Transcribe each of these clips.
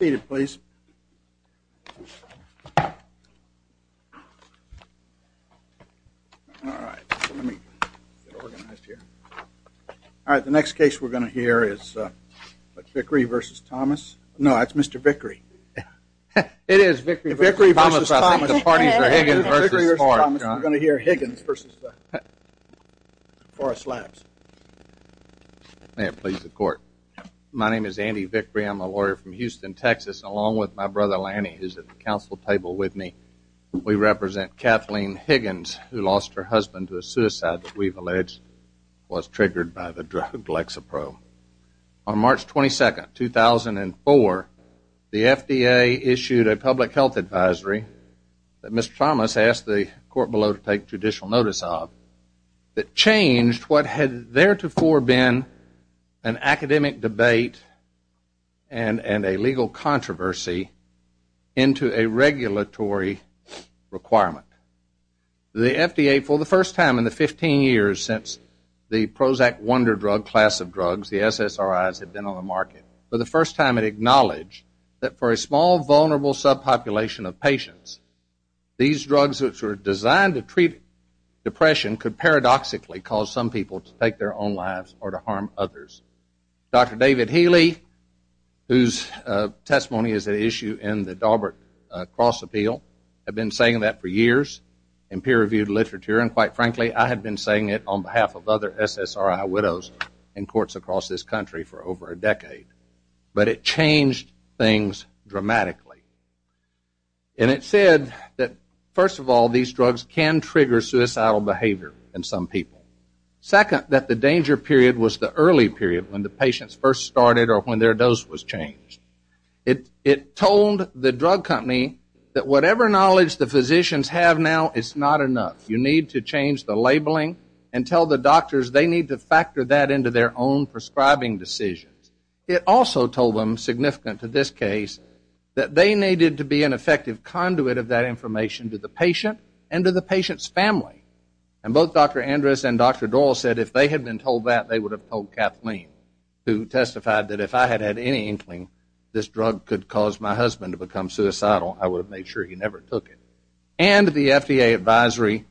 The next case we are going to hear is Vickery v. Thomas, no that is Mr. Vickery. It is Vickery v. Thomas, I think the parties are Higgins v. Forest Labs. May it please the court. My name is Andy Vickery, I am a lawyer from Houston, Texas along with my brother Lanny who is at the council table with me. We represent Kathleen Higgins who lost her husband to a suicide that we have alleged was triggered by the drug Lexapro. On March 22, 2004, the FDA issued a public health advisory that Mr. Thomas asked the court below to take judicial notice of a drug that changed what had theretofore been an academic debate and a legal controversy into a regulatory requirement. The FDA for the first time in the 15 years since the Prozac wonder drug class of drugs, the SSRIs have been on the market, for the first time it acknowledged that for a small vulnerable subpopulation of patients, these drugs which were designed to treat depression could paradoxically cause some people to take their own lives or to harm others. Dr. David Healy, whose testimony is at issue in the Daubert cross appeal, had been saying that for years in peer reviewed literature and quite frankly I had been saying it on behalf of other SSRI widows in courts across this country for over a decade. But it changed things dramatically. And it said that first of all these drugs can trigger suicidal behavior in some people. Second, that the danger period was the early period when the patients first started or when their dose was changed. It told the drug company that whatever knowledge the physicians have now is not enough. You need to change the labeling and tell the doctors they need to factor that into their own prescribing decisions. It also told them, significant to this case, that they needed to be an effective conduit of that information to the patient and to the patient's family. And both Dr. Andres and Dr. Doyle said if they had been told that, they would have told Kathleen, who testified that if I had had any inkling this drug could cause my husband to become suicidal, I would have made sure he never took it. And the FDA advisory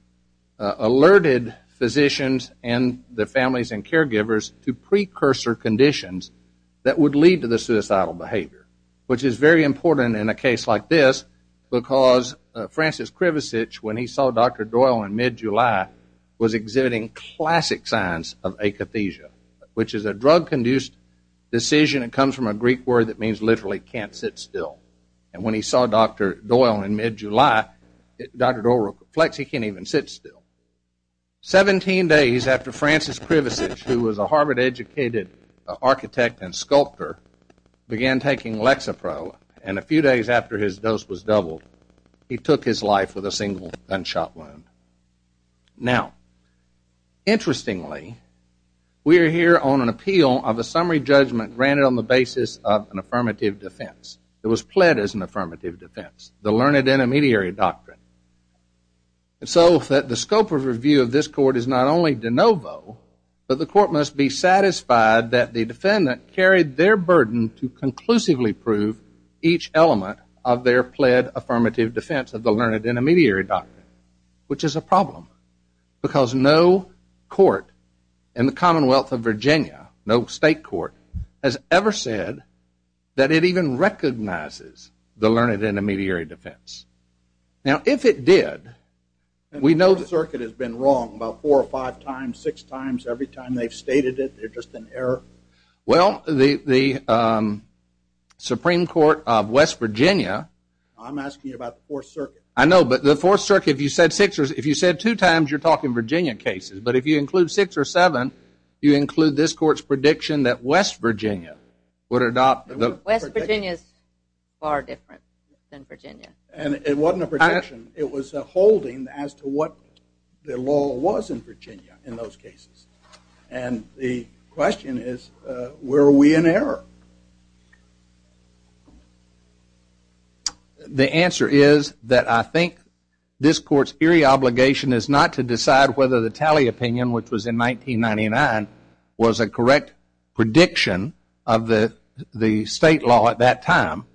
alerted physicians and their families and caregivers to precursor conditions that would lead to the suicidal behavior, which is very important in a case like this, because Francis Krivosich, when he saw Dr. Doyle in mid-July, was exhibiting classic signs of akathisia, which is a drug-conduced decision. It comes from a Greek word that means literally can't sit still. And when he saw Dr. Doyle in mid-July, Dr. Doyle reflects he can't even sit still. 17 days after Francis Krivosich, who was a Harvard-educated architect and sculptor, began taking Lexapro, and a few days after his dose was doubled, he took his life with a single gunshot wound. Now, interestingly, we are here on an appeal of a summary judgment granted on the basis of an affirmative defense. It was pled as an affirmative defense, the learned intermediary doctrine. So the scope of review of this court is not only de novo, but the court must be satisfied that the defendant carried their burden to conclusively prove each element of their pled affirmative defense of the learned intermediary doctrine, which is a problem, because no court in the Commonwealth of Virginia, no state court, has ever said that it even recognizes the learned intermediary defense. Now, if it did, we know the circuit has been wrong about four or five times, six times, every time they've stated it, they're just in error. Well, the Supreme Court of West Virginia, I'm asking you about the Fourth Circuit. I know, but the Fourth Circuit, if you said two times, you're talking Virginia cases. But if you include six or seven, you include this court's prediction that West Virginia would adopt. West Virginia is far different than Virginia. And it wasn't a prediction. It was a holding as to what the law was in Virginia in those cases. And the question is, were we in error? The answer is that I think this court's eerie obligation is not to decide whether the tally opinion, which was in 1999, was a correct prediction of the state law at that time.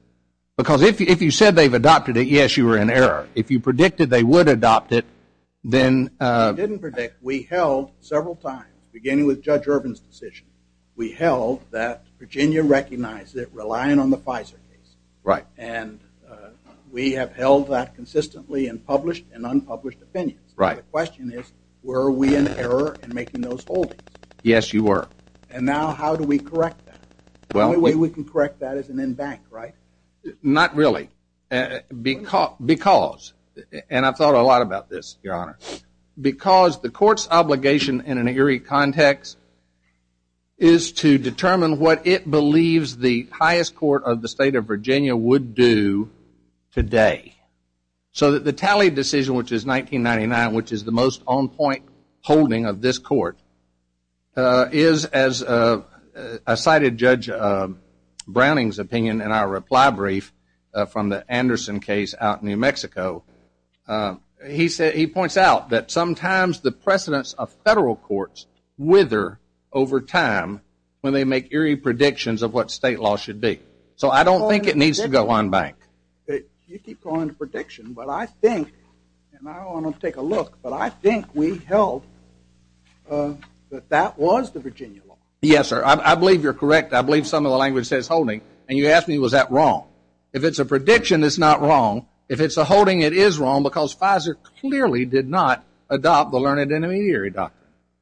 Because if you said they've adopted it, yes, you were in error. If you predicted they would adopt it, then... We didn't predict. We held several times, beginning with Judge Irvin's decision. We held that Virginia recognized it, relying on the Pfizer case. And we have held that consistently in published and unpublished opinions. The question is, were we in error in making those holdings? Yes, you were. And now how do we correct that? The only way we can correct that is an en banc, right? Not really. Because... And I've thought a lot about this, Your Honor. Because the court's obligation in an eerie context is to determine what it believes the highest court of the state of Virginia would do today. So that the tally decision, which is 1999, which is the most on-point holding of this court, is, as cited Judge Browning's opinion in our reply brief from the Anderson case out in New Mexico, he points out that sometimes the precedence of federal courts wither over time when they make eerie predictions of what state law should be. So I don't think it needs to go en banc. You keep going to prediction, but I think, and I don't want to take a look, but I think we held that that was the Virginia law. Yes, sir. I believe you're correct. I believe some of the language says holding. And you asked me, was that wrong? If it's a prediction, it's not wrong. If it's a holding, it is wrong. Because Pfizer clearly did not adopt the learned in an eerie doctrine.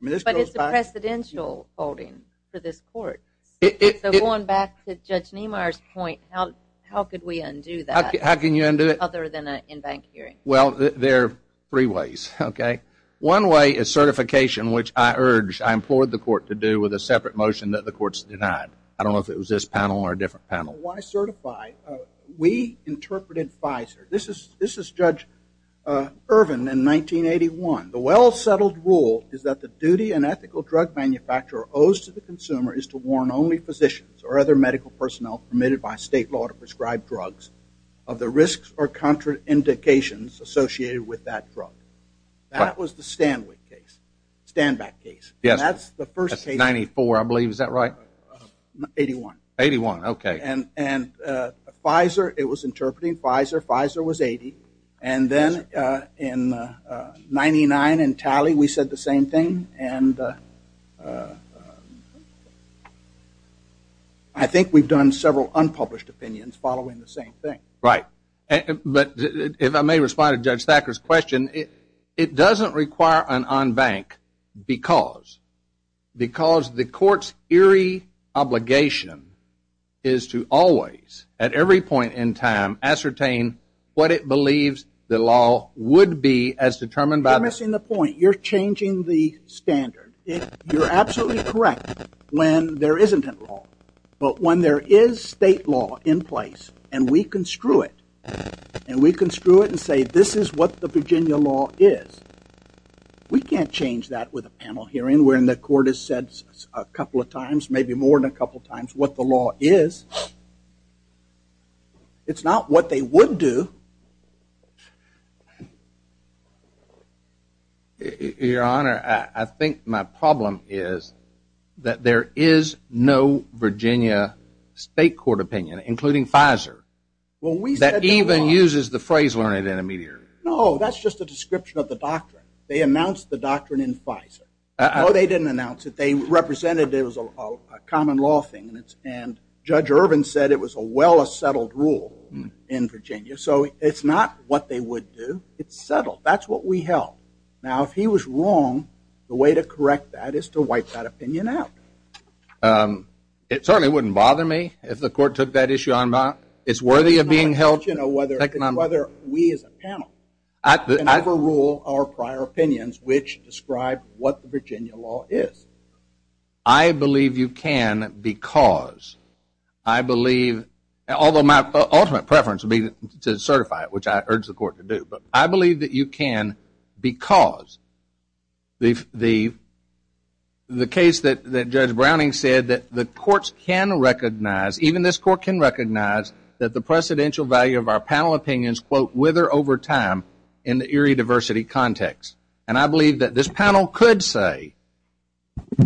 But it's a precedential holding for this court. So going back to Judge Niemeyer's point, how could we undo that? How can you undo it? Other than an en banc hearing. Well, there are three ways, okay? One way is certification, which I urge, I implore the court to do with a separate motion that the court's denied. I don't know if it was this panel or a different panel. Why certify? We interpreted Pfizer. This is Judge Irvin in 1981. The well-settled rule is that the duty and ethical drug manufacturer owes to the consumer is to warn only physicians or other medical personnel permitted by state law to prescribe drugs of the risks or contraindications associated with that drug. That was the Stanwick case. Standback case. That's the first case. That's 94, I believe. Is that right? 81. 81, okay. And Pfizer, it was interpreting Pfizer. Pfizer was 80. And then in 99 in Talley, we said the same thing. I think we've done several unpublished opinions following the same thing. Right. But if I may respond to Judge Thacker's question, it doesn't require an en banc because the court's eerie obligation is to always, at every point in time, ascertain what it believes the law would be as determined by the court. You're missing the point. You're changing the standard. You're absolutely correct when there isn't a law. But when there is state law in place and we construe it and we construe it and say, this is what the Virginia law is, we can't change that with a panel hearing when the court has said a couple of times, maybe more than a couple of times, what the law is. It's not what they would do. Your Honor, I think my problem is that there is no Virginia state court opinion, including Pfizer, that even uses the phrase learned in a meteor. No, that's just a description of the doctrine. They announced the doctrine in Pfizer. No, they didn't announce it. They represented it was a common law thing. And Judge Irvin said it was a well-settled rule in Virginia. So it's not what they would do. It's settled. That's what we held. Now, if he was wrong, the way to correct that is to wipe that opinion out. It certainly wouldn't bother me if the court took that issue on. It's worthy of being held. Whether we as a panel can overrule our prior opinions which describe what the Virginia law is. I believe you can because I believe, although my because the case that Judge Browning said that the courts can recognize, even this court can recognize, that the precedential value of our panel opinions, quote, wither over time in the eerie diversity context. And I believe that this panel could say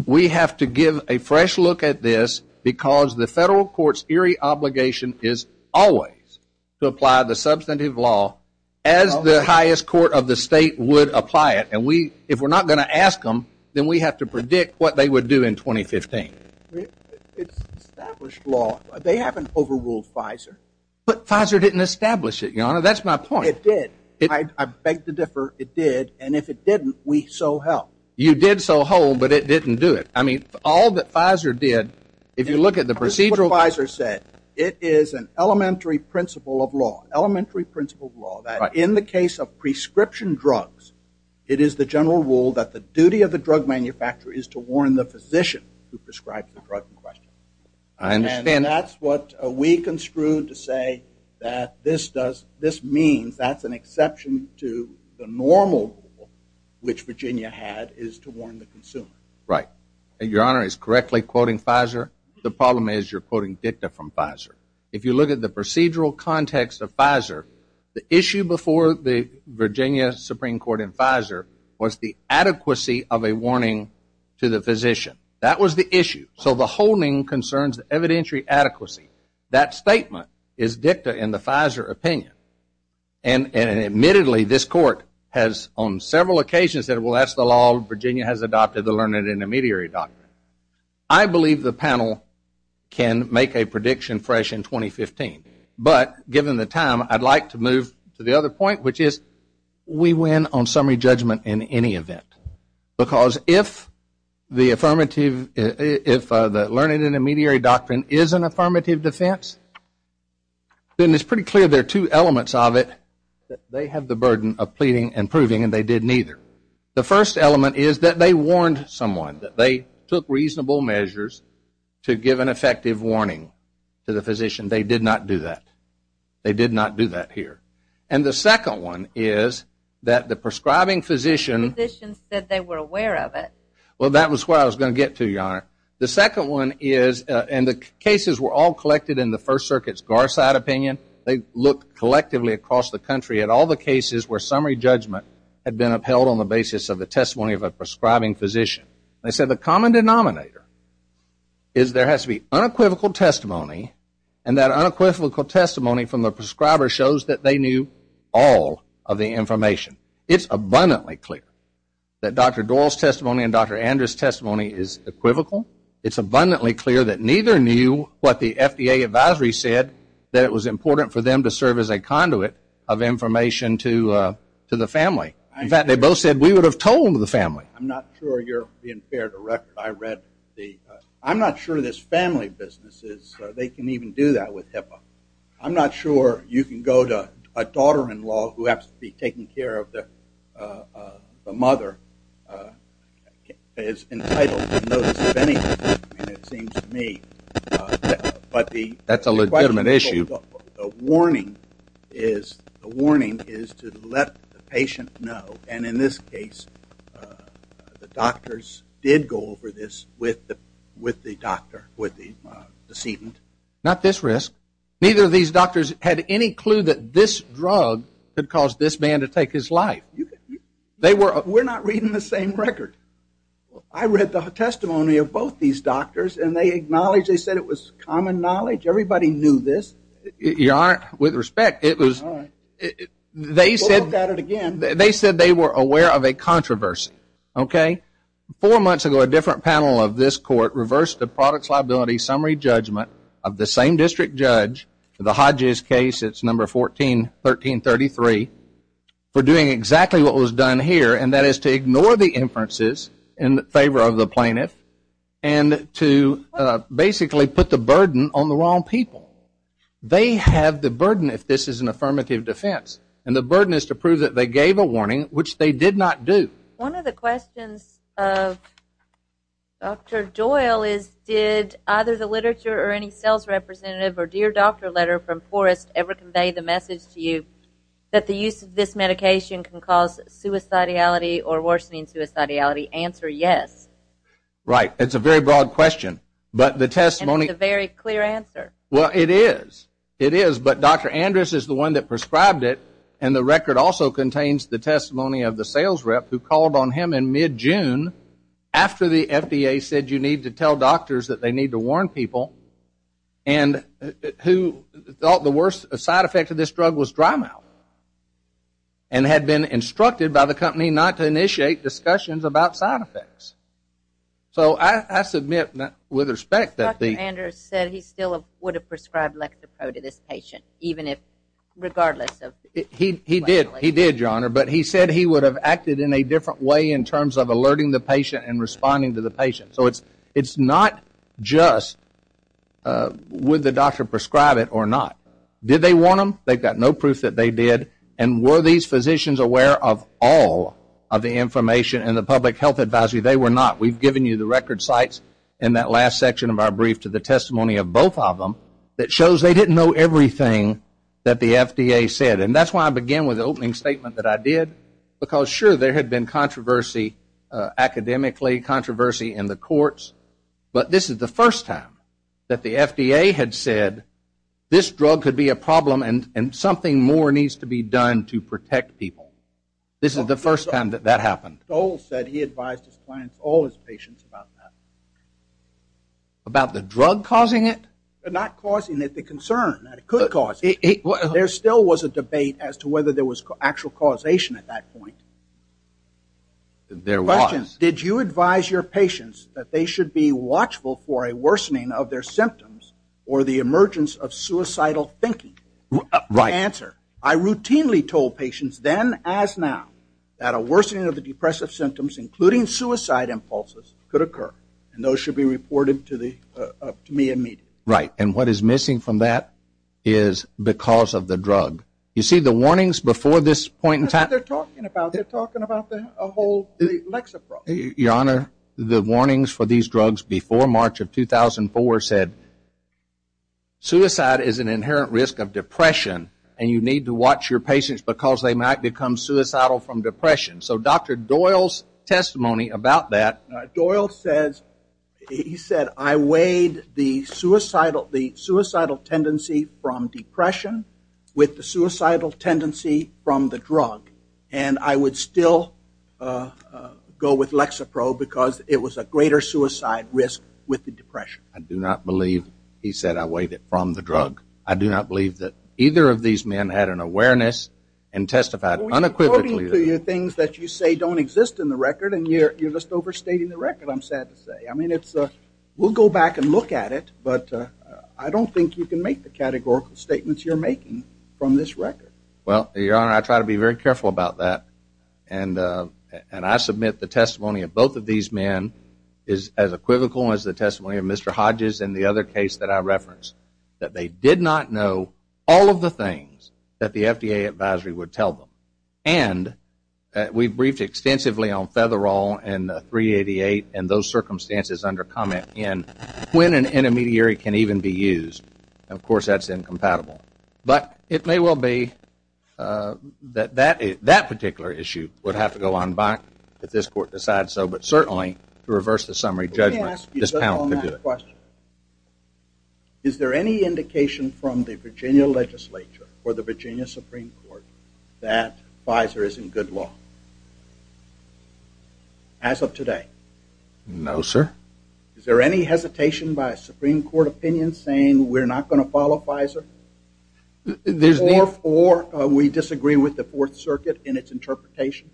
we have to give a fresh look at this because the federal court's eerie obligation is always to apply the substantive law as the highest court of the state would apply it. And if we're not going to ask them, then we have to predict what they would do in 2015. It's established law. They haven't overruled Pfizer. But Pfizer didn't establish it, Your Honor. That's my point. It did. I beg to differ. It did. And if it didn't, we so help. You did so whole, but it didn't do it. I mean, all that Pfizer did, if you look at the procedural Pfizer said, it is an elementary principle of law, elementary principle of law, that in the case of prescription drugs, it is the general rule that the duty of the drug manufacturer is to warn the physician who prescribes the drug in question. I understand. And that's what we construed to say that this means that's an exception to the normal rule, which Virginia had is to warn the consumer. Right. And Your Honor is correctly quoting Pfizer. The problem is you're quoting dicta from Pfizer. If you look at the procedural context of Pfizer, the issue before the Virginia Supreme Court in Pfizer was the adequacy of a warning to the physician. That was the issue. So the holding concerns evidentiary adequacy. That statement is dicta in the Pfizer opinion. And admittedly, this court has on several occasions said, well, that's the law. Virginia has adopted the learned intermediary doctrine. I believe the panel can make a prediction fresh in 2015. But given the time, I'd like to move to the other point, which is we win on summary judgment in any event. Because if the affirmative if the learned intermediary doctrine is an affirmative defense, then it's pretty clear there are two elements of it that they have the burden of pleading and proving and they did neither. The first element is that they warned someone, that they took reasonable measures to give an effective warning to the physician. They did not do that. They did not do that here. And the second one is that the prescribing physician. The physician said they were aware of it. Well, that was where I was going to get to, Your Honor. The second one is, and the cases were all collected in the First Circuit's Garside opinion. They looked collectively across the country at all the cases where summary judgment had been upheld on the basis of the testimony of a prescribing physician. They said the common denominator is there has to be unequivocal testimony and that unequivocal testimony from the prescriber shows that they knew all of the information. It's abundantly clear that Dr. Doyle's testimony and Dr. Andrew's testimony is equivocal. It's abundantly clear that neither knew what the FDA advisory said that it was important for them to have told the family. I'm not sure you're being fair, Director. I'm not sure this family business, they can even do that with HIPAA. I'm not sure you can go to a daughter-in-law who has to be taking care of the mother as entitled to notice of anything, it seems to me. That's a legitimate issue. The warning is to let the patient know, and in this case, the doctors did go over this with the doctor, with the decedent. Not this risk. Neither of these doctors had any clue that this drug could cause this man to take his life. We're not reading the same record. I read the testimony of both these doctors, and they acknowledged, they said it was common knowledge. Everybody knew this. Your Honor, with respect, they said they were aware of a controversy. Four months ago, a different panel of this court reversed the product's liability summary judgment of the same district judge, the Hodges case, it's number 141333, for doing exactly what was done here, and that is to ignore the inferences in favor of the plaintiff and to basically put the burden on the wrong people. They have the burden if this is an affirmative defense, and the burden is to prove that they gave a warning, which they did not do. One of the questions of Dr. Doyle is, did either the literature or any sales representative or dear doctor letter from Forrest ever convey the message to you that the use of this medication can cause suicidality or worsening suicidality? Answer, yes. Right. It's a very broad question, but the testimony... And it's a very clear answer. Well, it is. It is, but Dr. Andrus is the one that prescribed it, and the record also contains the testimony of the sales rep who called on him in mid-June after the FDA said you need to tell doctors that they need to warn people and who thought the worst side effect of this drug was dry mouth and had been instructed by the company not to initiate discussions about side effects. So I submit with respect that the... Dr. Andrus said he still would have prescribed Lectapro to this patient even if, regardless of... He did, he did, Your Honor, but he said he would have acted in a different way in terms of alerting the patient and responding to the patient. So it's not just would the doctor prescribe it or not. Did they warn them? They've got no proof that they did. And were these physicians aware of all of the information in the public health advisory? They were not. We've given you the record of those sites in that last section of our brief to the testimony of both of them that shows they didn't know everything that the FDA said. And that's why I began with the opening statement that I did, because sure, there had been controversy academically, controversy in the courts, but this is the first time that the FDA had said this drug could be a problem and something more needs to be done to protect people. This is the first time that that happened. Stoll said he advised his clients, all his patients, about that. About the drug causing it? Not causing it, the concern that it could cause it. There still was a debate as to whether there was actual causation at that point. There was. Did you advise your patients that they should be watchful for a worsening of their symptoms or the emergence of suicidal thinking? The answer. I routinely told patients then as now that a worsening of the depressive symptoms, including suicide impulses, could occur. And those should be reported to me immediately. Right. And what is missing from that is because of the drug. You see the warnings before this point in time. That's what they're talking about. They're talking about the whole Lexapro. Your Honor, the warnings for these drugs before March of 2004 said suicide is an inherent risk of depression and you need to watch your patients because they might become suicidal from depression. So Dr. Doyle's testimony about that. Doyle says he said I weighed the suicidal tendency from depression with the suicidal tendency from the drug. And I would still go with Lexapro because it was a greater suicide risk with the depression. I do not believe he said I weighed it from the drug. I do not believe that either of these men had an awareness and testified unequivocally. We're quoting to you things that you say don't exist in the record and you're just overstating the record, I'm sad to say. I mean, we'll go back and look at it, but I don't think you can make the categorical statements you're making from this record. Well, Your Honor, I try to be very careful about that. And I submit the testimony of both of these men is as equivocal as the testimony of Mr. Hodges and the other case that I referenced. That they did not know all of the things that the FDA advisory would tell them. And we've briefed extensively on Featherall and 388 and those circumstances under comment and when an intermediary can even be used. Of course, that's incompatible. But it may well be that that particular issue would have to go on back if this Court decides so. But certainly to reverse the summary judgment, this panel could do it. Is there any indication from the Virginia legislature or the Virginia Supreme Court that Pfizer is in good law? As of today? No, sir. Is there any hesitation by a Supreme Court opinion saying we're not going to follow Pfizer? Or we disagree with the Fourth Circuit in its interpretation?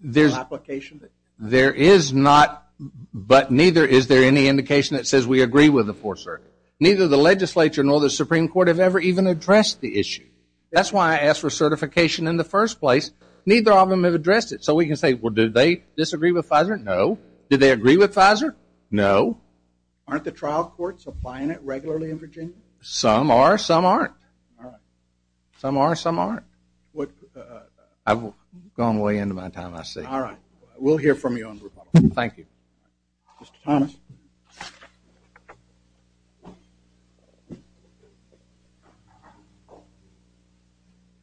There is not, but neither is there any indication that says we agree with the Fourth Circuit. Neither the legislature nor the Supreme Court have ever even addressed the issue. That's why I asked for certification in the first place. Neither of them have addressed it. So we can say, well, do they disagree with Pfizer? No. Do they agree with Pfizer? No. Aren't the trial courts applying it regularly in Virginia? Some are, some aren't. I've gone way into my time, I see. All right. We'll hear from you on the rebuttal. Thank you.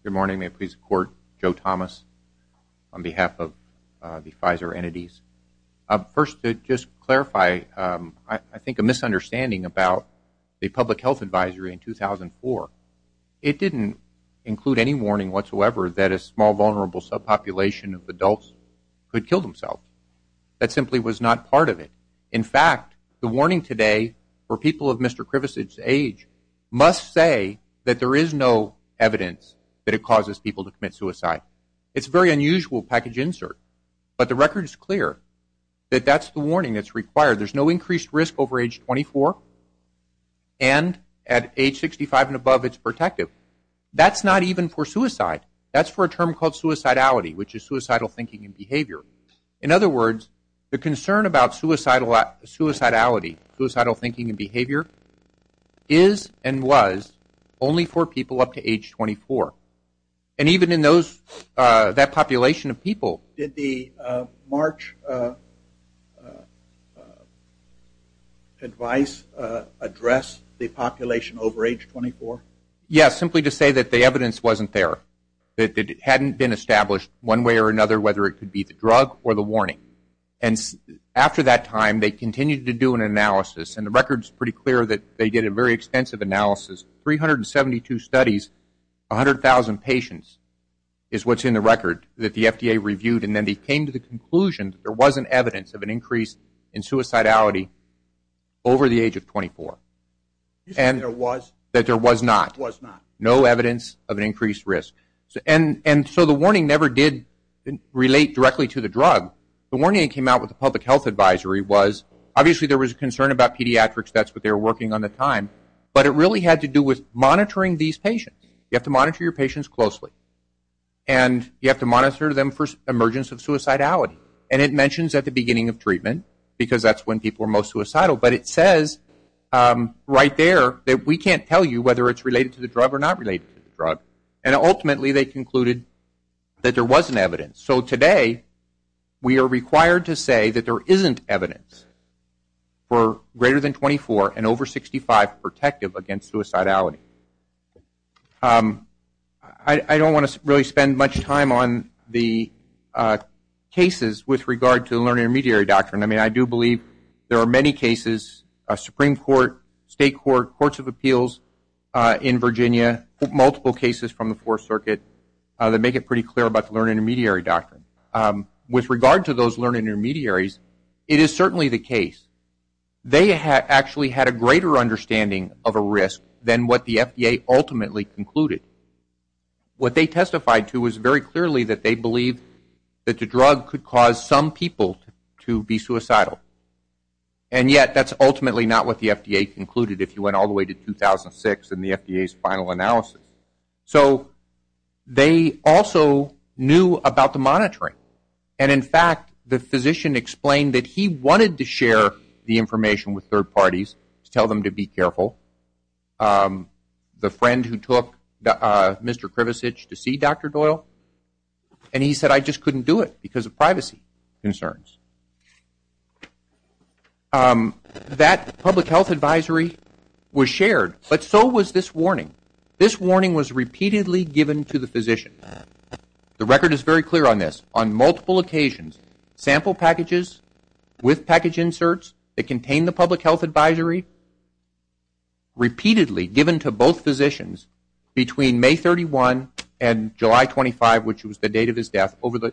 Good morning. May it please the Court? Joe Thomas on behalf of the Pfizer entities. First, to just clarify, I think a misunderstanding about the public health advisory in 2004, it didn't include any warning whatsoever that a small vulnerable subpopulation of adults could kill themselves. That simply was not part of it. In fact, the warning today for people of Mr. Krivosevich's age must say that there is no evidence that it causes people to commit suicide. It's a very unusual package insert, but the record is clear that that's the warning that's required. There's no increased risk over age 24, and at age 65 and above it's protective. That's not even for suicide. That's for a term called suicidality, which is suicidal thinking and behavior. In other words, the concern about suicidality, suicidal thinking and behavior, is and was only for people up to age 24. And even in that population of people... Did the March advice address the population over age 24? Yes, simply to say that the evidence wasn't there. That it hadn't been established one way or another whether it could be the drug or the warning. After that time, they continued to do an analysis, and the record's pretty clear that they did a very extensive analysis. 372 studies, 100,000 patients is what's in the record that the FDA reviewed, and then they came to the conclusion that there wasn't evidence of an increase in suicidality over the age of 24. That there was not. No evidence of an increased risk. And so the warning never did relate directly to the drug. The warning that came out with the public health advisory was, obviously there was a concern about pediatrics, that's what they were working on at the time, but it really had to do with monitoring these patients. You have to monitor your patients closely. And you have to monitor them for emergence of suicidality. And it mentions at the beginning of treatment, because that's when people are most suicidal, but it says right there that we can't tell you whether it's related to the drug or not related to the drug. And ultimately they concluded that there wasn't evidence. So today, we are required to say that there isn't evidence for greater than 24 and over 65 protective against suicidality. I don't want to really spend much time on the cases with regard to the learning and intermediaries in Virginia, multiple cases from the fourth circuit that make it pretty clear about the learning and intermediary doctrine. With regard to those learning intermediaries, it is certainly the case. They actually had a greater understanding of a risk than what the FDA ultimately concluded. What they testified to was very clearly that they believed that the drug could cause some people to be suicidal. And yet, that's ultimately not what the FDA concluded if you went all the way to 2006 and the FDA's final analysis. So they also knew about the monitoring. And in fact, the physician explained that he wanted to share the information with third parties to tell them to be careful. The friend who took Mr. Krivosich to see Dr. Doyle. And he said, I just couldn't do it because of privacy concerns. That public health advisory was shared, but so was this warning. This warning was repeatedly given to the physician. The record is very clear on this. On multiple occasions, sample packages with package inserts that between May 31 and July 25, which was the date of his death, over the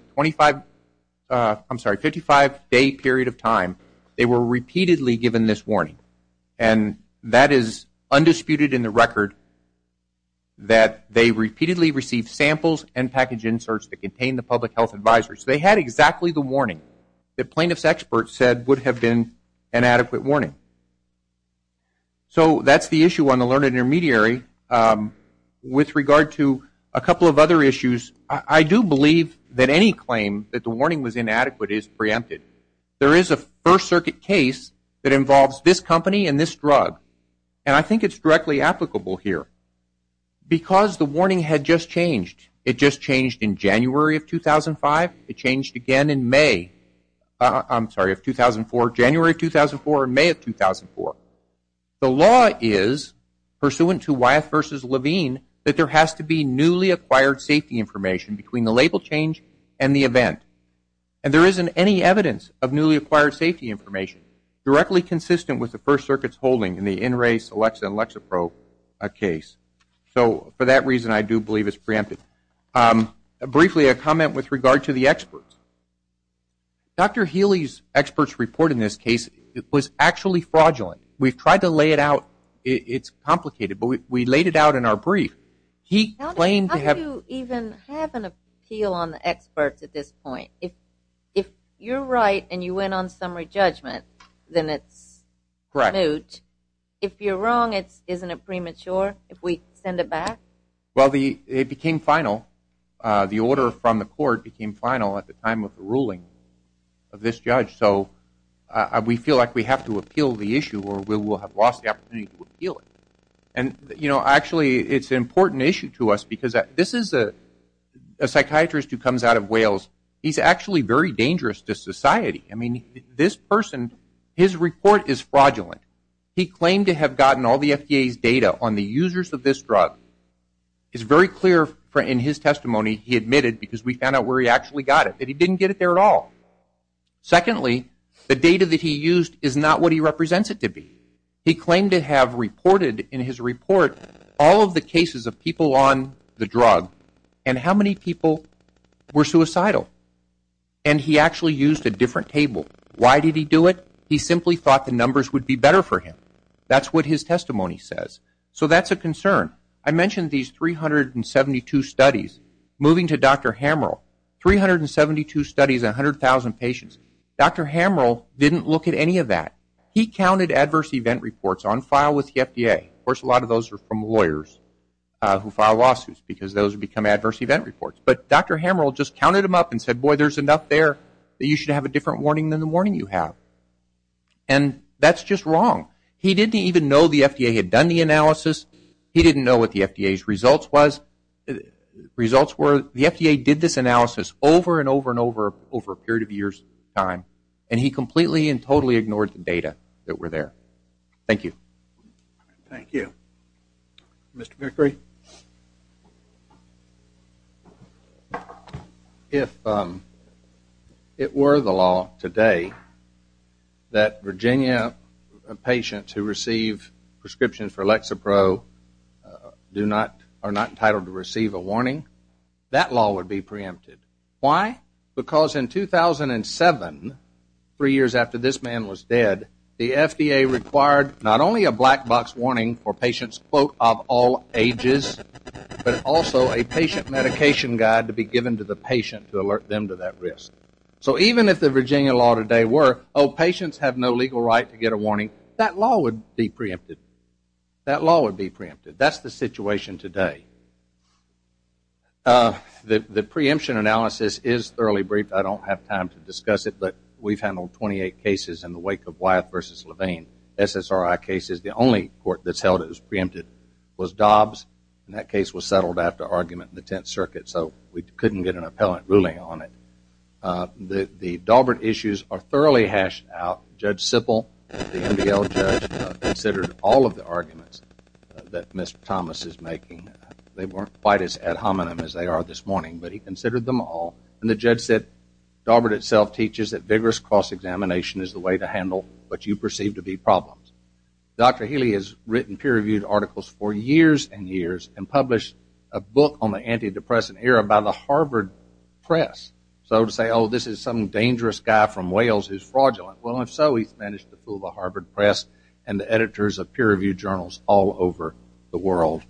55 day period of time, they were repeatedly given this warning. And that is undisputed in the record that they repeatedly received samples and package inserts that contained the public health advisory. So they had exactly the warning that plaintiff's experts said would have been an adequate warning. So that's the issue on the learned intermediary. With regard to a couple of other issues, I do believe that any claim that the warning was inadequate is preempted. There is a First Circuit case that involves this company and this drug. And I think it's directly applicable here. Because the warning had just changed. It just changed in January of 2004, January of 2004, and May of 2004. The law is, pursuant to Wyeth v. Levine, that there has to be newly acquired safety information between the label change and the event. And there isn't any evidence of newly acquired safety information directly consistent with the First Circuit's holding in the NRA, Celexa, and Lexapro case. So for that reason, I do believe it's preempted. Briefly, a comment with regard to the experts. Dr. Healy's experts report in this case was actually fraudulent. We've tried to lay it out. It's complicated, but we laid it out in our brief. He claimed to have... How do you even have an appeal on the experts at this point? If you're right and you went on summary judgment, then it's moot. Correct. If you're wrong, isn't it premature if we send it back? Well, it became final. The order from the court became final at the time of the ruling of this judge. So we feel like we have to appeal the issue or we will have lost the opportunity to appeal it. Actually, it's an important issue to us because this is a psychiatrist who comes out of Wales. He's actually very dangerous to society. I mean, this person, his report is fraudulent. He claimed to have gotten all the FDA's data on the users of this drug. It's very clear in his testimony he admitted because we found out where he actually got it that he didn't get it there at all. Secondly, the data that he used is not what he represents it to be. He claimed to have reported in his report all of the cases of people on the drug and how many people were suicidal. And he actually used a different table. Why did he do it? He simply thought the numbers would be better for him. That's what his testimony says. So that's a concern. I mentioned these 372 studies. Moving to Dr. Hamerl, 372 studies in 100,000 patients. Dr. Hamerl didn't look at any of that. He counted adverse event reports on file with the FDA. Of course, a lot of those are from lawyers who file lawsuits because those become adverse event reports. But Dr. Hamerl just counted them up and said, boy, there's enough there that you should have a different warning than the warning you have. And that's just wrong. He didn't even know the FDA had done the analysis. He didn't know what the FDA's results were. The FDA did this analysis over and over and over and over a period of years. And he completely and totally ignored the data that were there. Thank you. Mr. Vickery? If it were the law today that Virginia patients who receive prescriptions for Lexapro are not entitled to receive a warning, that law would be preempted. Why? Because in 2007, three years after this man was dead, the FDA required not only a black box warning for patients of all ages, but also a patient medication guide to be given to the patient to alert them to that risk. So even if the Virginia law today were, oh, patients have no legal right to get a warning, that law would be preempted. That law would be preempted. That's the situation today. The preemption analysis is thoroughly brief. I don't have time to discuss it, but we've handled 28 cases in the wake of Wyeth v. Levine. SSRI cases, the only court that's held it as preempted was Dobbs. And that case was settled after the argument in the Tenth Circuit, so we couldn't get an appellate ruling on it. The Daubert issues are thoroughly hashed out. Judge Sippel, the MDL judge, considered all of the arguments that Mr. Thomas is making. They weren't quite as ad hominem as they are this morning, but he considered them all. And the judge said, Daubert itself teaches that vigorous cross-examination is the way to handle what you perceive to be problems. Dr. Healy has written peer-reviewed articles for years and years and published a book on the anti-depressant era by the Harvard Press. So to say, oh, this is some dangerous guy from Wales who's fraudulent. Well, if so, he's managed to fool the Harvard Press and the editors of peer-reviewed journals all over the world.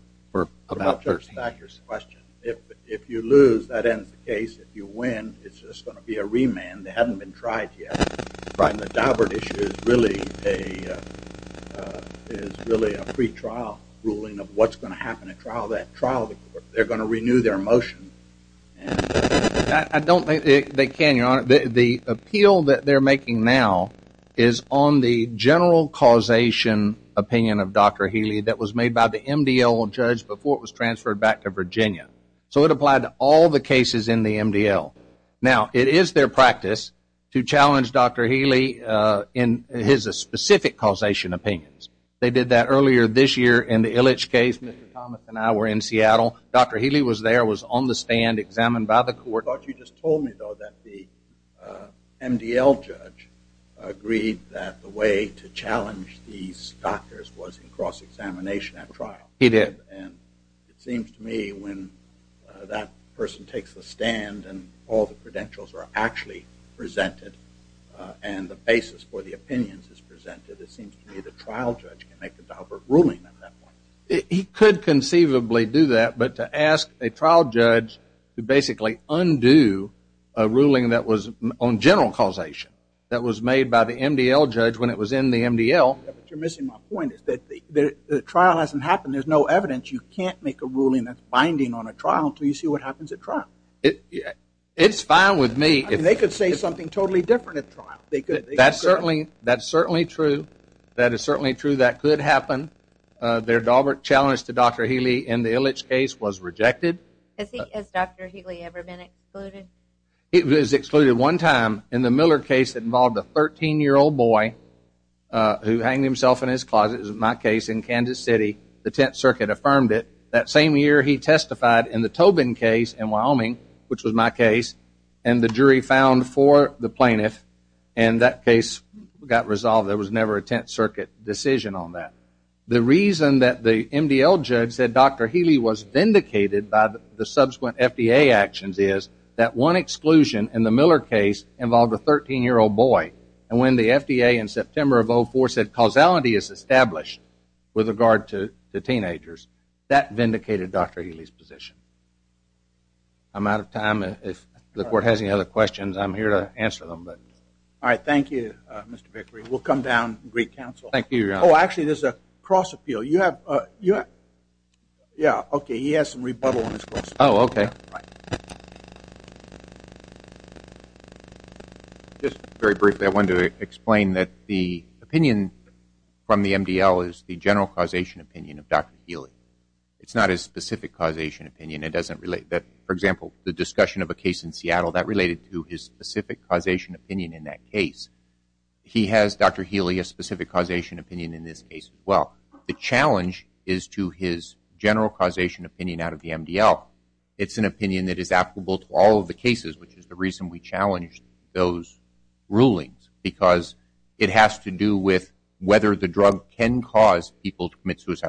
If you lose, that ends the case. If you win, it's just going to be a remand. They haven't been tried yet. The Daubert issue is really a pre-trial ruling of what's going to happen at trial. They're going to renew their motion. I don't think they can, Your Honor. The appeal that they're making now is on the general causation opinion of Dr. Healy that was made by the MDL judge before it was transferred back to Virginia. So it applied to all the cases in the MDL. Now, it is their practice to challenge Dr. Healy in his specific causation opinions. They did that earlier this year in the Illich case. Mr. Thomas and I were in Seattle. Dr. Healy was there, was on the stand, examined by the court. But you just told me, though, that the MDL judge agreed that the way to challenge these doctors was in cross-examination at trial. He did. And it seems to me when that person takes the stand and all the credentials are actually presented and the basis for the opinions is presented, it seems to me the trial judge can make the Daubert ruling at that point. He could conceivably do that, but to ask a trial judge to basically undo a ruling that was on general causation that was made by the MDL judge when it was in the MDL. You're missing my point. The trial hasn't happened. There's no evidence. You can't make a ruling that's binding on a trial until you see what happens at trial. It's fine with me. They could say something totally different at trial. That's certainly true. That is certainly Has Dr. Healy ever been excluded? He was excluded one time in the Miller case that involved a 13-year-old boy who hanged himself in his closet. It was my case in Kansas City. The Tenth Circuit affirmed it. That same year he testified in the Tobin case in Wyoming, which was my case, and the jury found for the plaintiff. And that case got resolved. There was never a Tenth Circuit decision on that. The reason that the MDL judge said Dr. Healy was vindicated by the subsequent FDA actions is that one exclusion in the Miller case involved a 13-year-old boy. And when the FDA in September of 2004 said causality is established with regard to the teenagers, that vindicated Dr. Healy's position. I'm out of time. If the court has any other questions, I'm here to answer them. All right. Thank you, Mr. Vickery. We'll come down and greet counsel. Actually, there's a cross-appeal. He has some rebuttal. Just very briefly, I wanted to explain that the opinion from the MDL is the general causation opinion of Dr. Healy. It's not his specific causation opinion. For example, the discussion of a case in Seattle, that related to his specific causation opinion in that case. He has, Dr. Healy, a specific causation opinion in this case as well. The challenge is to his general causation opinion out of the MDL. It's an opinion that is applicable to all of the cases, which is the reason we challenged those rulings, because it has to do with whether the drug can cause people to commit suicide.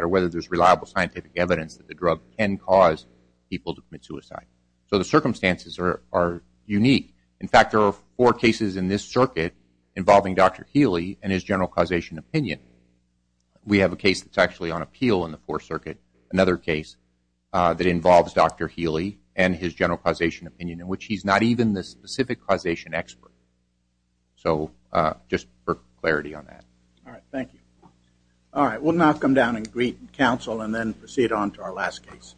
So the circumstances are unique. In fact, there are four cases in this circuit involving Dr. Healy and his general causation opinion. We have a case that's actually on appeal in the fourth circuit, another case that involves Dr. Healy and his general causation opinion, in which he's not even the specific causation expert. So, just for clarity on that. All right. Thank you. All right. We'll now come down and greet counsel and then proceed on to our last case.